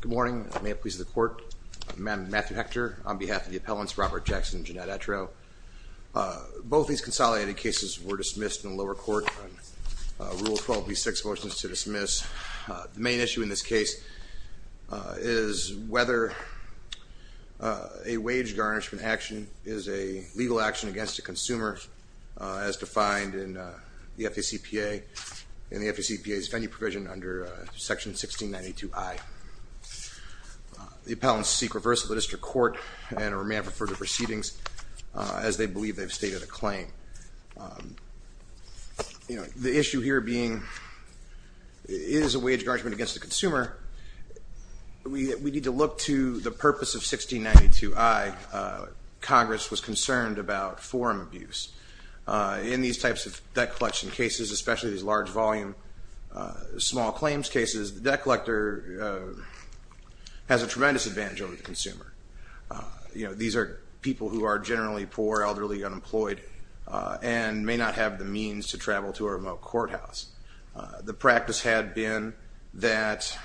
Good morning. May it please the Court. I'm Matthew Hector on behalf of the appellants Robert Jackson and Jeannette Attrell. Both these consolidated cases were dismissed in the lower court on Rule 12B6, Motions to Dismiss. The main issue in this case is whether a wage garnishment action is a legal action against a consumer as defined in the FACPA and the FACPA's venue provision under Section 1692I. The appellants seek reversal of the district court and or may have referred to proceedings as they believe they've stated a claim. The issue here being is a wage garnishment against a consumer. We need to look to the purpose of 1692I. Congress was concerned about forum abuse. In these types of debt collection cases, especially these large volume small claims cases, the debt collector has a tremendous advantage over the consumer. These are people who are generally poor, elderly, unemployed, and may not have the means to travel to a remote courthouse. The practice had been that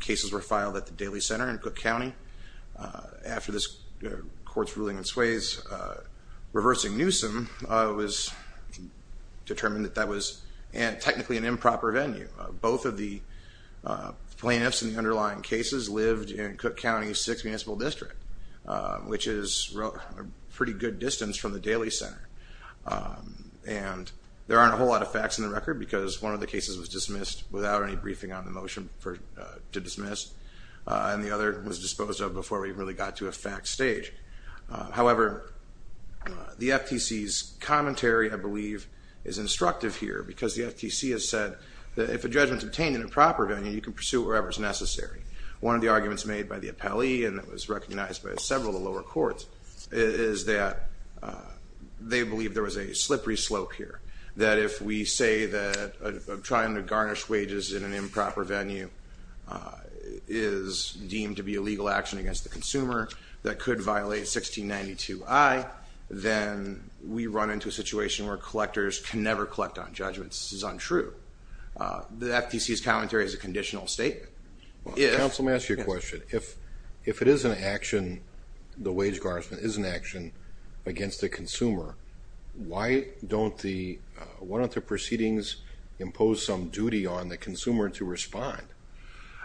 cases were filed at the Daly Center in Cook County. After this court's ruling in Swayze, reversing Newsom was determined that that was technically an improper venue. Both of the plaintiffs in the underlying cases lived in Cook County's 6th Municipal District, which is a pretty good distance from the Daly Center. There aren't a whole lot of facts in the record because one of the cases was dismissed without any briefing on the motion to dismiss, and the other was disposed of before we really got to a fact stage. However, the FTC's commentary, I believe, is instructive here because the FTC has said that if a judgment is obtained in a proper venue, you can pursue it wherever it's necessary. One of the arguments made by the appellee, and it was recognized by several of the lower courts, is that they believe there was a slippery slope here. That if we say that trying to garnish wages in an improper venue is deemed to be a legal action against the consumer that could violate 1692I, then we run into a situation where collectors can never collect on judgments. This is untrue. The FTC's commentary is a conditional statement. Counsel, may I ask you a question? If it is an action, the wage garnishment is an action against the consumer, why don't the proceedings impose some duty on the consumer to respond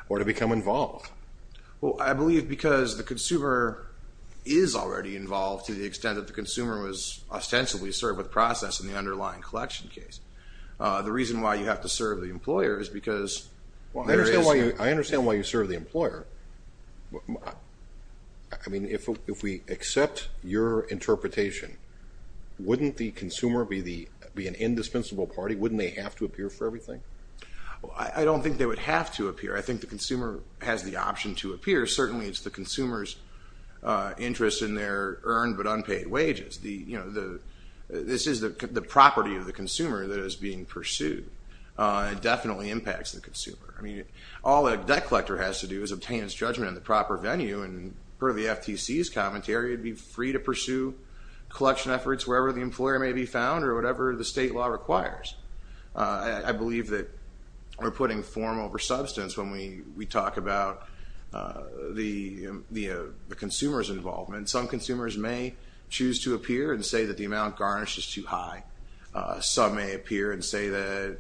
or to become involved? I believe because the consumer is already involved to the extent that the consumer was ostensibly served with process in the underlying collection case. The reason why you have to serve the employer is because there is... I understand why you serve the employer. I mean, if we accept your interpretation, wouldn't the consumer be an indispensable party? Wouldn't they have to appear for everything? I don't think they would have to appear. I think the consumer has the option to appear. Certainly it's the consumer's interest in their earned but unpaid wages. This is the property of the consumer that is being pursued. It definitely impacts the consumer. I mean, all a debt collector has to do is obtain his judgment in the proper venue and per the FTC's commentary, it'd be free to pursue collection efforts wherever the employer may be found or whatever the state law requires. I believe that we're putting form over substance when we talk about the consumer's involvement. Some consumers may choose to appear and say that the amount garnished is too high. Some may appear and say that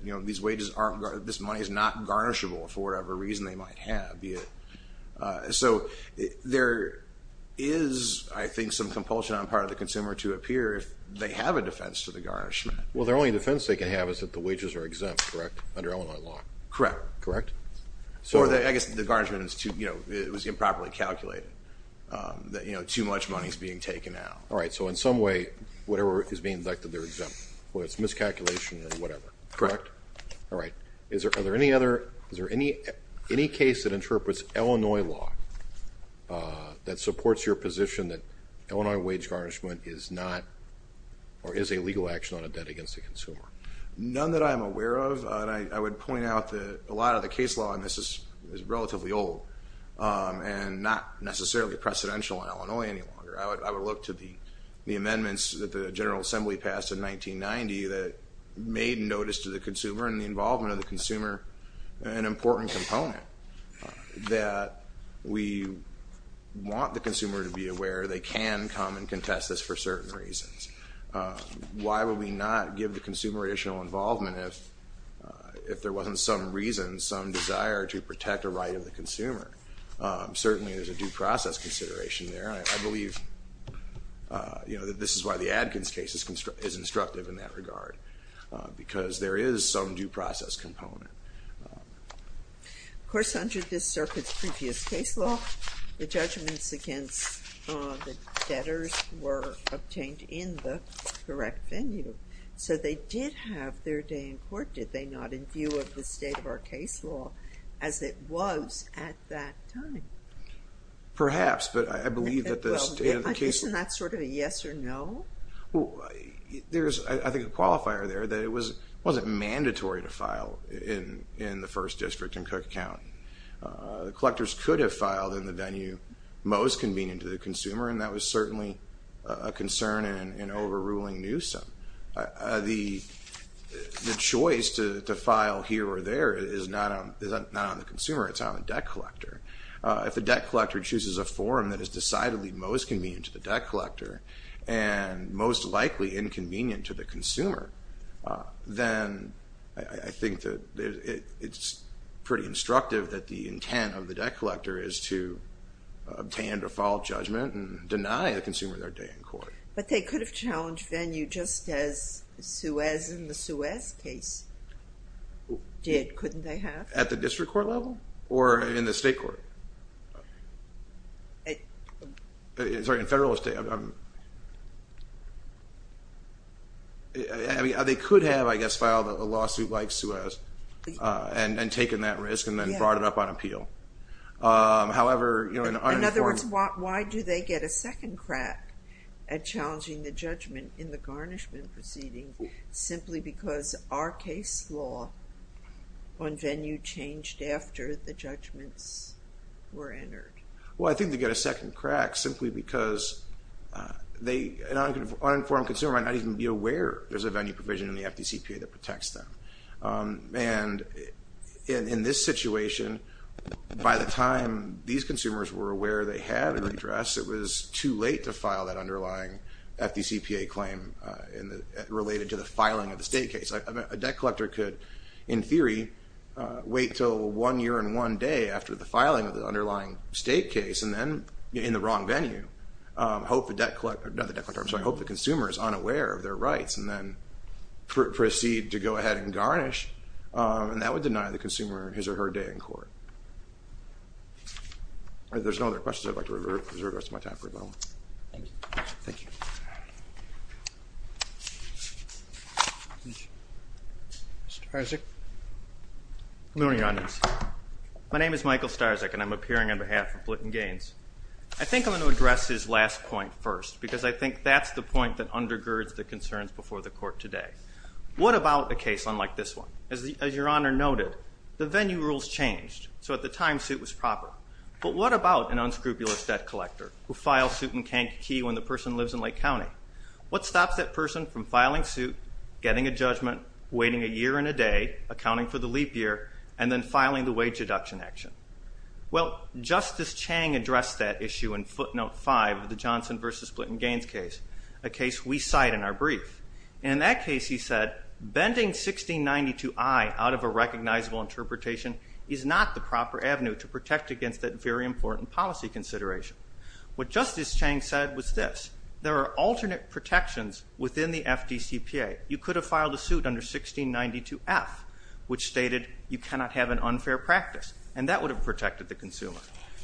this money is not garnishable for whatever reason they might have. So there is, I think, some compulsion on part of the consumer to appear if they have a defense to the garnishment. Well, the only defense they can have is that the wages are exempt, correct, under Illinois law? Correct. Correct? Or I guess the garnishment was improperly calculated, that too much money is being taken out. All right, so in some way, whatever is being deducted, they're exempt, whether it's miscalculation or whatever. Correct. All right. Are there any other, is there any case that interprets Illinois law that supports your position that Illinois wage garnishment is not, or is a legal action on a debt against the consumer? None that I'm aware of. And I would point out that a lot of the case law on this is relatively old and not necessarily precedential on Illinois any longer. I would look to the amendments that the General Assembly passed in 1990 that made notice to the consumer and the involvement of the consumer an important component, that we want the consumer to be aware they can come and contest this for certain reasons. Why would we not give the consumer additional involvement if there wasn't some reason, some desire to protect the right of the consumer? Certainly there's a due process consideration there. I believe this is why the Adkins case is instructive in that regard, because there is some due process component. Of course, under this circuit's previous case law, the judgments against the debtors were based on the correct venue. So they did have their day in court, did they not, in view of the state of our case law as it was at that time? Perhaps but I believe that the state of the case... Isn't that sort of a yes or no? There's I think a qualifier there that it wasn't mandatory to file in the first district and cook count. The collectors could have filed in the venue most convenient to the consumer and that was overruling Newsom. The choice to file here or there is not on the consumer, it's on the debt collector. If the debt collector chooses a forum that is decidedly most convenient to the debt collector and most likely inconvenient to the consumer, then I think that it's pretty instructive that the intent of the debt collector is to obtain a default judgment and deny the consumer their day in court. But they could have challenged venue just as Suez in the Suez case did, couldn't they have? At the district court level or in the state court? Sorry, in federalist... I mean, they could have, I guess, filed a lawsuit like Suez and taken that risk and then brought it up on appeal. However... In other words, why do they get a second crack at challenging the judgment in the garnishment proceeding simply because our case law on venue changed after the judgments were entered? Well, I think they get a second crack simply because an uninformed consumer might not even be aware there's a venue provision in the FDCPA that protects them. And in this situation, by the time these consumers were aware they had an address, it was too late to file that underlying FDCPA claim related to the filing of the state case. A debt collector could, in theory, wait until one year and one day after the filing of the underlying state case and then, in the wrong venue, hope the debt collector... not the debt collector, I'm sorry, hope the consumer is unaware of their rights and then proceed to go ahead and garnish. And that would deny the consumer his or her day in court. If there's no other questions, I'd like to reserve the rest of my time for a moment. Thank you. Thank you. Mr. Starczyk. Good morning, Your Honors. My name is Michael Starczyk, and I'm appearing on behalf of Blinken Gaines. I think I'm going to address his last point first because I think that's the point that undergirds the concerns before the Court today. What about a case unlike this one? As Your Honor noted, the venue rules changed, so at the time, suit was proper. But what about an unscrupulous debt collector who files suit in Kankakee when the person lives in Lake County? What stops that person from filing suit, getting a judgment, waiting a year and a day, accounting for the leap year, and then filing the wage deduction action? Well, Justice Chang addressed that issue in footnote 5 of the Johnson v. Blinken Gaines case, a case we cite in our brief. In that case, he said, bending 1692I out of a recognizable interpretation is not the proper avenue to protect against that very important policy consideration. What Justice Chang said was this. There are alternate protections within the FDCPA. You could have filed a suit under 1692F, which stated you cannot have an unfair practice, and that would have protected the consumer.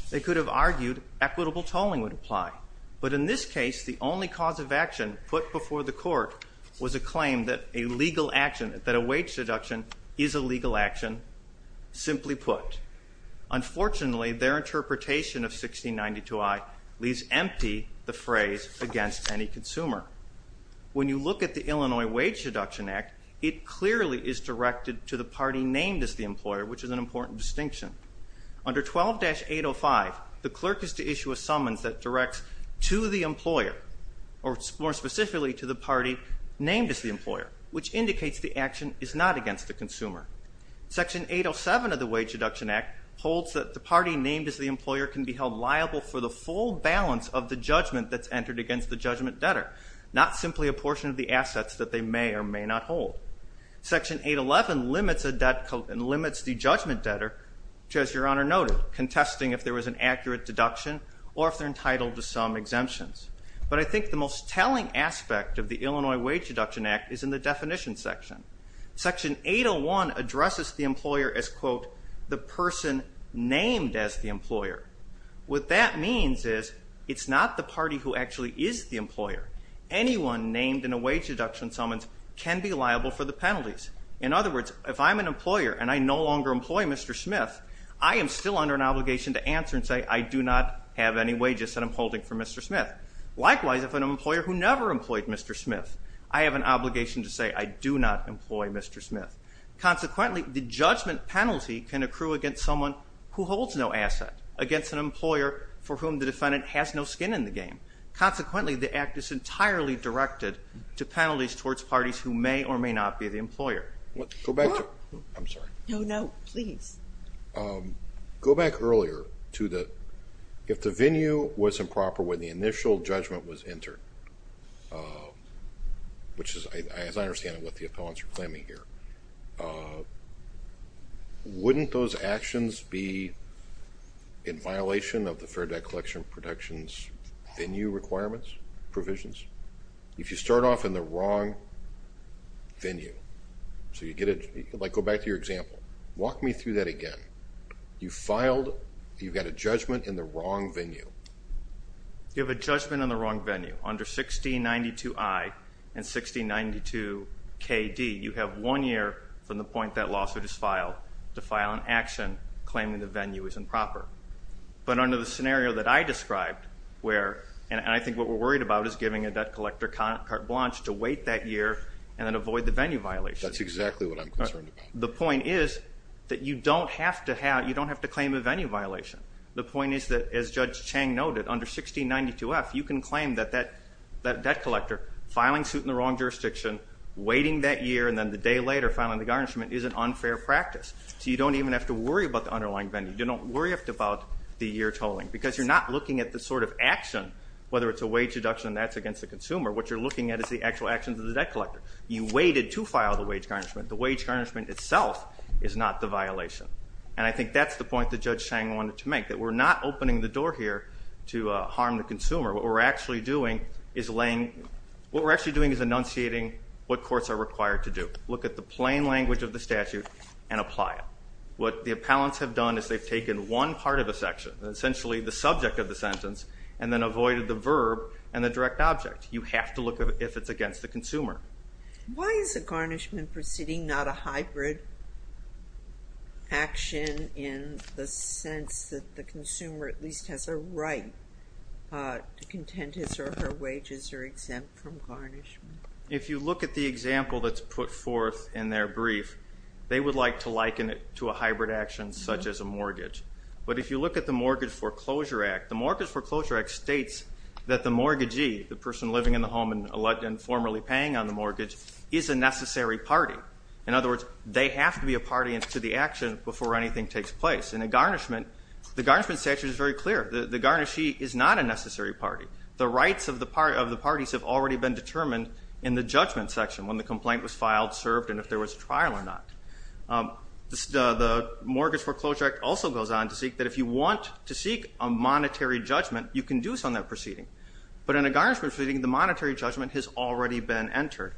They could have argued equitable tolling would apply. But in this case, the only cause of action put before the court was a claim that a legal action, that a wage deduction is a legal action, simply put. Unfortunately, their interpretation of 1692I leaves empty the phrase against any consumer. When you look at the Illinois Wage Deduction Act, it clearly is directed to the party named as the employer, which is an important distinction. Under 12-805, the clerk is to issue a summons that directs to the employer, or more specifically to the party named as the employer, which indicates the action is not against the consumer. Section 807 of the Wage Deduction Act holds that the party named as the employer can be held liable for the full balance of the judgment that's entered against the judgment debtor, not simply a portion of the assets that they may or may not hold. Section 811 limits the judgment debtor, which as Your Honor noted, contesting if there was an accurate deduction or if they're entitled to some exemptions. But I think the most telling aspect of the Illinois Wage Deduction Act is in the definition section. Section 801 addresses the employer as, quote, the person named as the employer. What that means is it's not the party who actually is the employer. Anyone named in a wage deduction summons can be liable for the penalties. In other words, if I'm an employer and I no longer employ Mr. Smith, I am still under an obligation to answer and say I do not have any wages that I'm holding for Mr. Smith. Likewise, if I'm an employer who never employed Mr. Smith, I have an obligation to say I do not employ Mr. Smith. Consequently, the judgment penalty can accrue against someone who holds no asset, against an employer for whom the defendant has no skin in the game. Consequently, the act is entirely directed to penalties towards parties who may or may not be the employer. Go back to, I'm sorry. No, no, please. Go back earlier to the, if the venue was improper when the initial judgment was entered, which is, as I understand it, what the appellants are claiming here, wouldn't those actions be in violation of the Fair Debt Collection Protection's venue requirements, provisions? If you start off in the wrong venue, so you get it, like go back to your example. Walk me through that again. You filed, you've got a judgment in the wrong venue. You have a judgment in the wrong venue. Under 1692I and 1692KD, you have one year from the point that lawsuit is filed to file an action claiming the venue is improper. But under the scenario that I described, where, and I think what we're worried about is giving a debt collector carte blanche to wait that year and then avoid the venue violation. That's exactly what I'm concerned about. The point is that you don't have to have, you don't have to claim a venue violation. The point is that, as Judge Chang noted, under 1692F, you can claim that that debt collector filing suit in the wrong jurisdiction, waiting that year, and then the day later filing the garnishment is an unfair practice. So you don't even have to worry about the underlying venue. You don't worry about the year tolling. Because you're not looking at the sort of action, whether it's a wage deduction and that's against the consumer. What you're looking at is the actual actions of the debt collector. You waited to file the wage garnishment. The wage garnishment itself is not the violation. And I think that's the point that Judge Chang wanted to make. That we're not opening the door here to harm the consumer. What we're actually doing is laying, what we're actually doing is enunciating what courts are required to do. Look at the plain language of the statute and apply it. What the appellants have done is they've taken one part of a section, essentially the subject of the sentence, and then avoided the verb and the direct object. You have to look if it's against the consumer. Why is a garnishment proceeding not a hybrid action in the sense that the consumer at least has a right to contend his or her wages are exempt from garnishment? If you look at the example that's put forth in their brief, they would like to liken it to a hybrid action such as a mortgage. But if you look at the Mortgage Foreclosure Act, the Mortgage Foreclosure Act states that the mortgagee, the person living in the home and formerly paying on the mortgage, is a necessary party. In other words, they have to be a party to the action before anything takes place. In a garnishment, the garnishment statute is very clear. The garnishee is not a necessary party. The rights of the parties have already been determined in the judgment section when the complaint was filed, served, and if there was a trial or not. The Mortgage Foreclosure Act also goes on to state that if you want to seek a monetary judgment, you can do so in that proceeding. But in a garnishment proceeding, the monetary judgment has already been entered.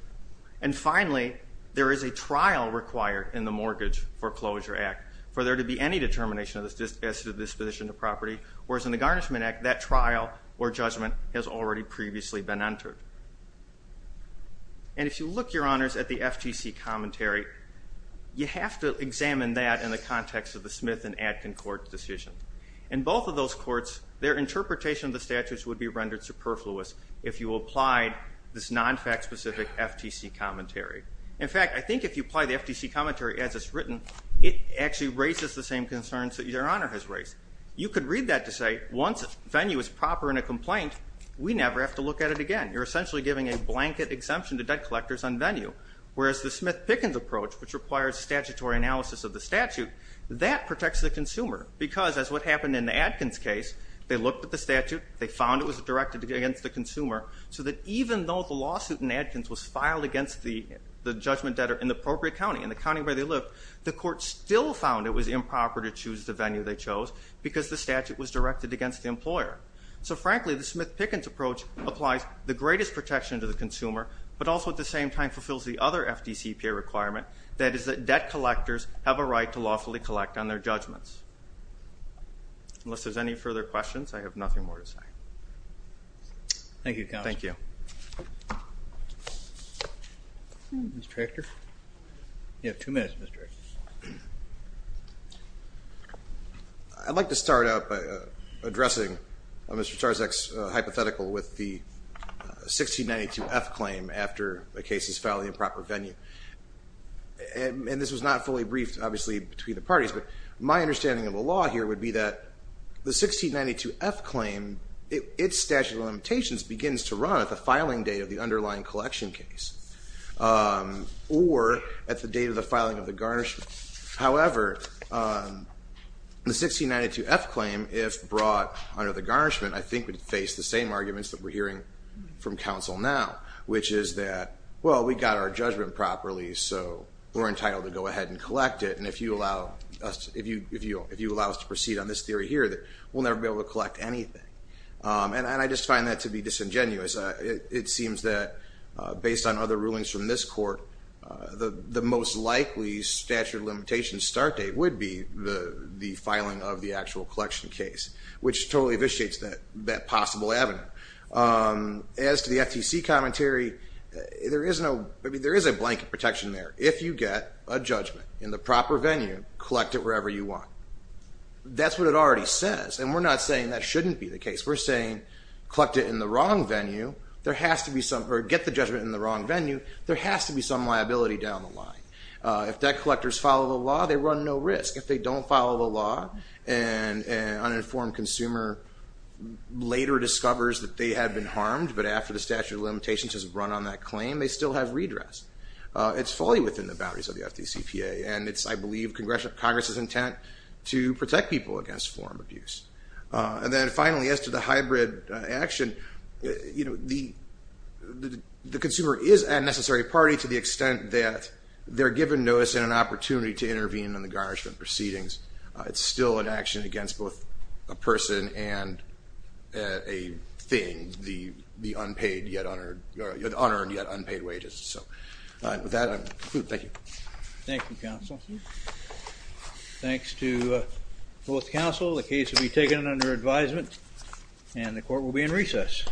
And finally, there is a trial required in the Mortgage Foreclosure Act for there to be any determination as to disposition of property, whereas in the Garnishment Act, that trial or judgment has already previously been entered. And if you look, Your Honors, at the FTC commentary, you have to examine that in the context of the Smith and Atkin Court decision. In both of those courts, their interpretation of the statutes would be rendered superfluous if you applied this non-fact-specific FTC commentary. In fact, I think if you apply the FTC commentary as it's written, it actually raises the same concerns that Your Honor has raised. You could read that to say once venue is proper in a complaint, we never have to look at it again. You're essentially giving a blanket exemption to debt collectors on venue, whereas the Smith-Pickens approach, which requires statutory analysis of the statute, that protects the consumer, because as what happened in the Atkins case, they looked at the statute, they found it was directed against the consumer, so that even though the lawsuit in Atkins was filed against the judgment debtor in the appropriate county, in the county where they lived, the court still found it was improper to choose the venue they chose because the statute was directed against the employer. So frankly, the Smith-Pickens approach applies the greatest protection to the consumer, but also at the same time fulfills the other FDCPA requirement, that is that debt collectors have a right to lawfully collect on their judgments. Unless there's any further questions, I have nothing more to say. Thank you, counsel. Thank you. Mr. Hector? You have two minutes, Mr. Hector. I'd like to start out by addressing Mr. Czarzak's hypothetical with the 1692F claim after the case is filed in the improper venue. And this was not fully briefed, obviously, between the parties, but my understanding of the law here would be that the 1692F claim, its statute of limitations begins to run at the filing date of the underlying collection case or at the date of the filing of the garnishment. However, the 1692F claim, if brought under the garnishment, I think would face the same arguments that we're hearing from counsel now, which is that, well, we got our judgment properly, so we're entitled to go ahead and collect it. And if you allow us to proceed on this theory here, we'll never be able to collect anything. And I just find that to be disingenuous. It seems that based on other rulings from this court, the most likely statute of limitations start date would be the filing of the actual collection case, which totally vitiates that possible avenue. As to the FTC commentary, there is a blanket protection there. If you get a judgment in the proper venue, collect it wherever you want. That's what it already says, and we're not saying that shouldn't be the case. We're saying collect it in the wrong venue. There has to be some or get the judgment in the wrong venue. There has to be some liability down the line. If debt collectors follow the law, they run no risk. If they don't follow the law and an uninformed consumer later discovers that they have been harmed, but after the statute of limitations has run on that claim, they still have redress. It's fully within the boundaries of the FTCPA, and it's, I believe, Congress's intent to protect people against form of abuse. And then finally, as to the hybrid action, the consumer is a necessary party to the extent that they're given notice and an opportunity to intervene in the garnishment proceedings. It's still an action against both a person and a thing, the unpaid yet unearned wages. So with that, I conclude. Thank you. Thank you, counsel. Thanks to both counsel. The case will be taken under advisement, and the court will be in recess.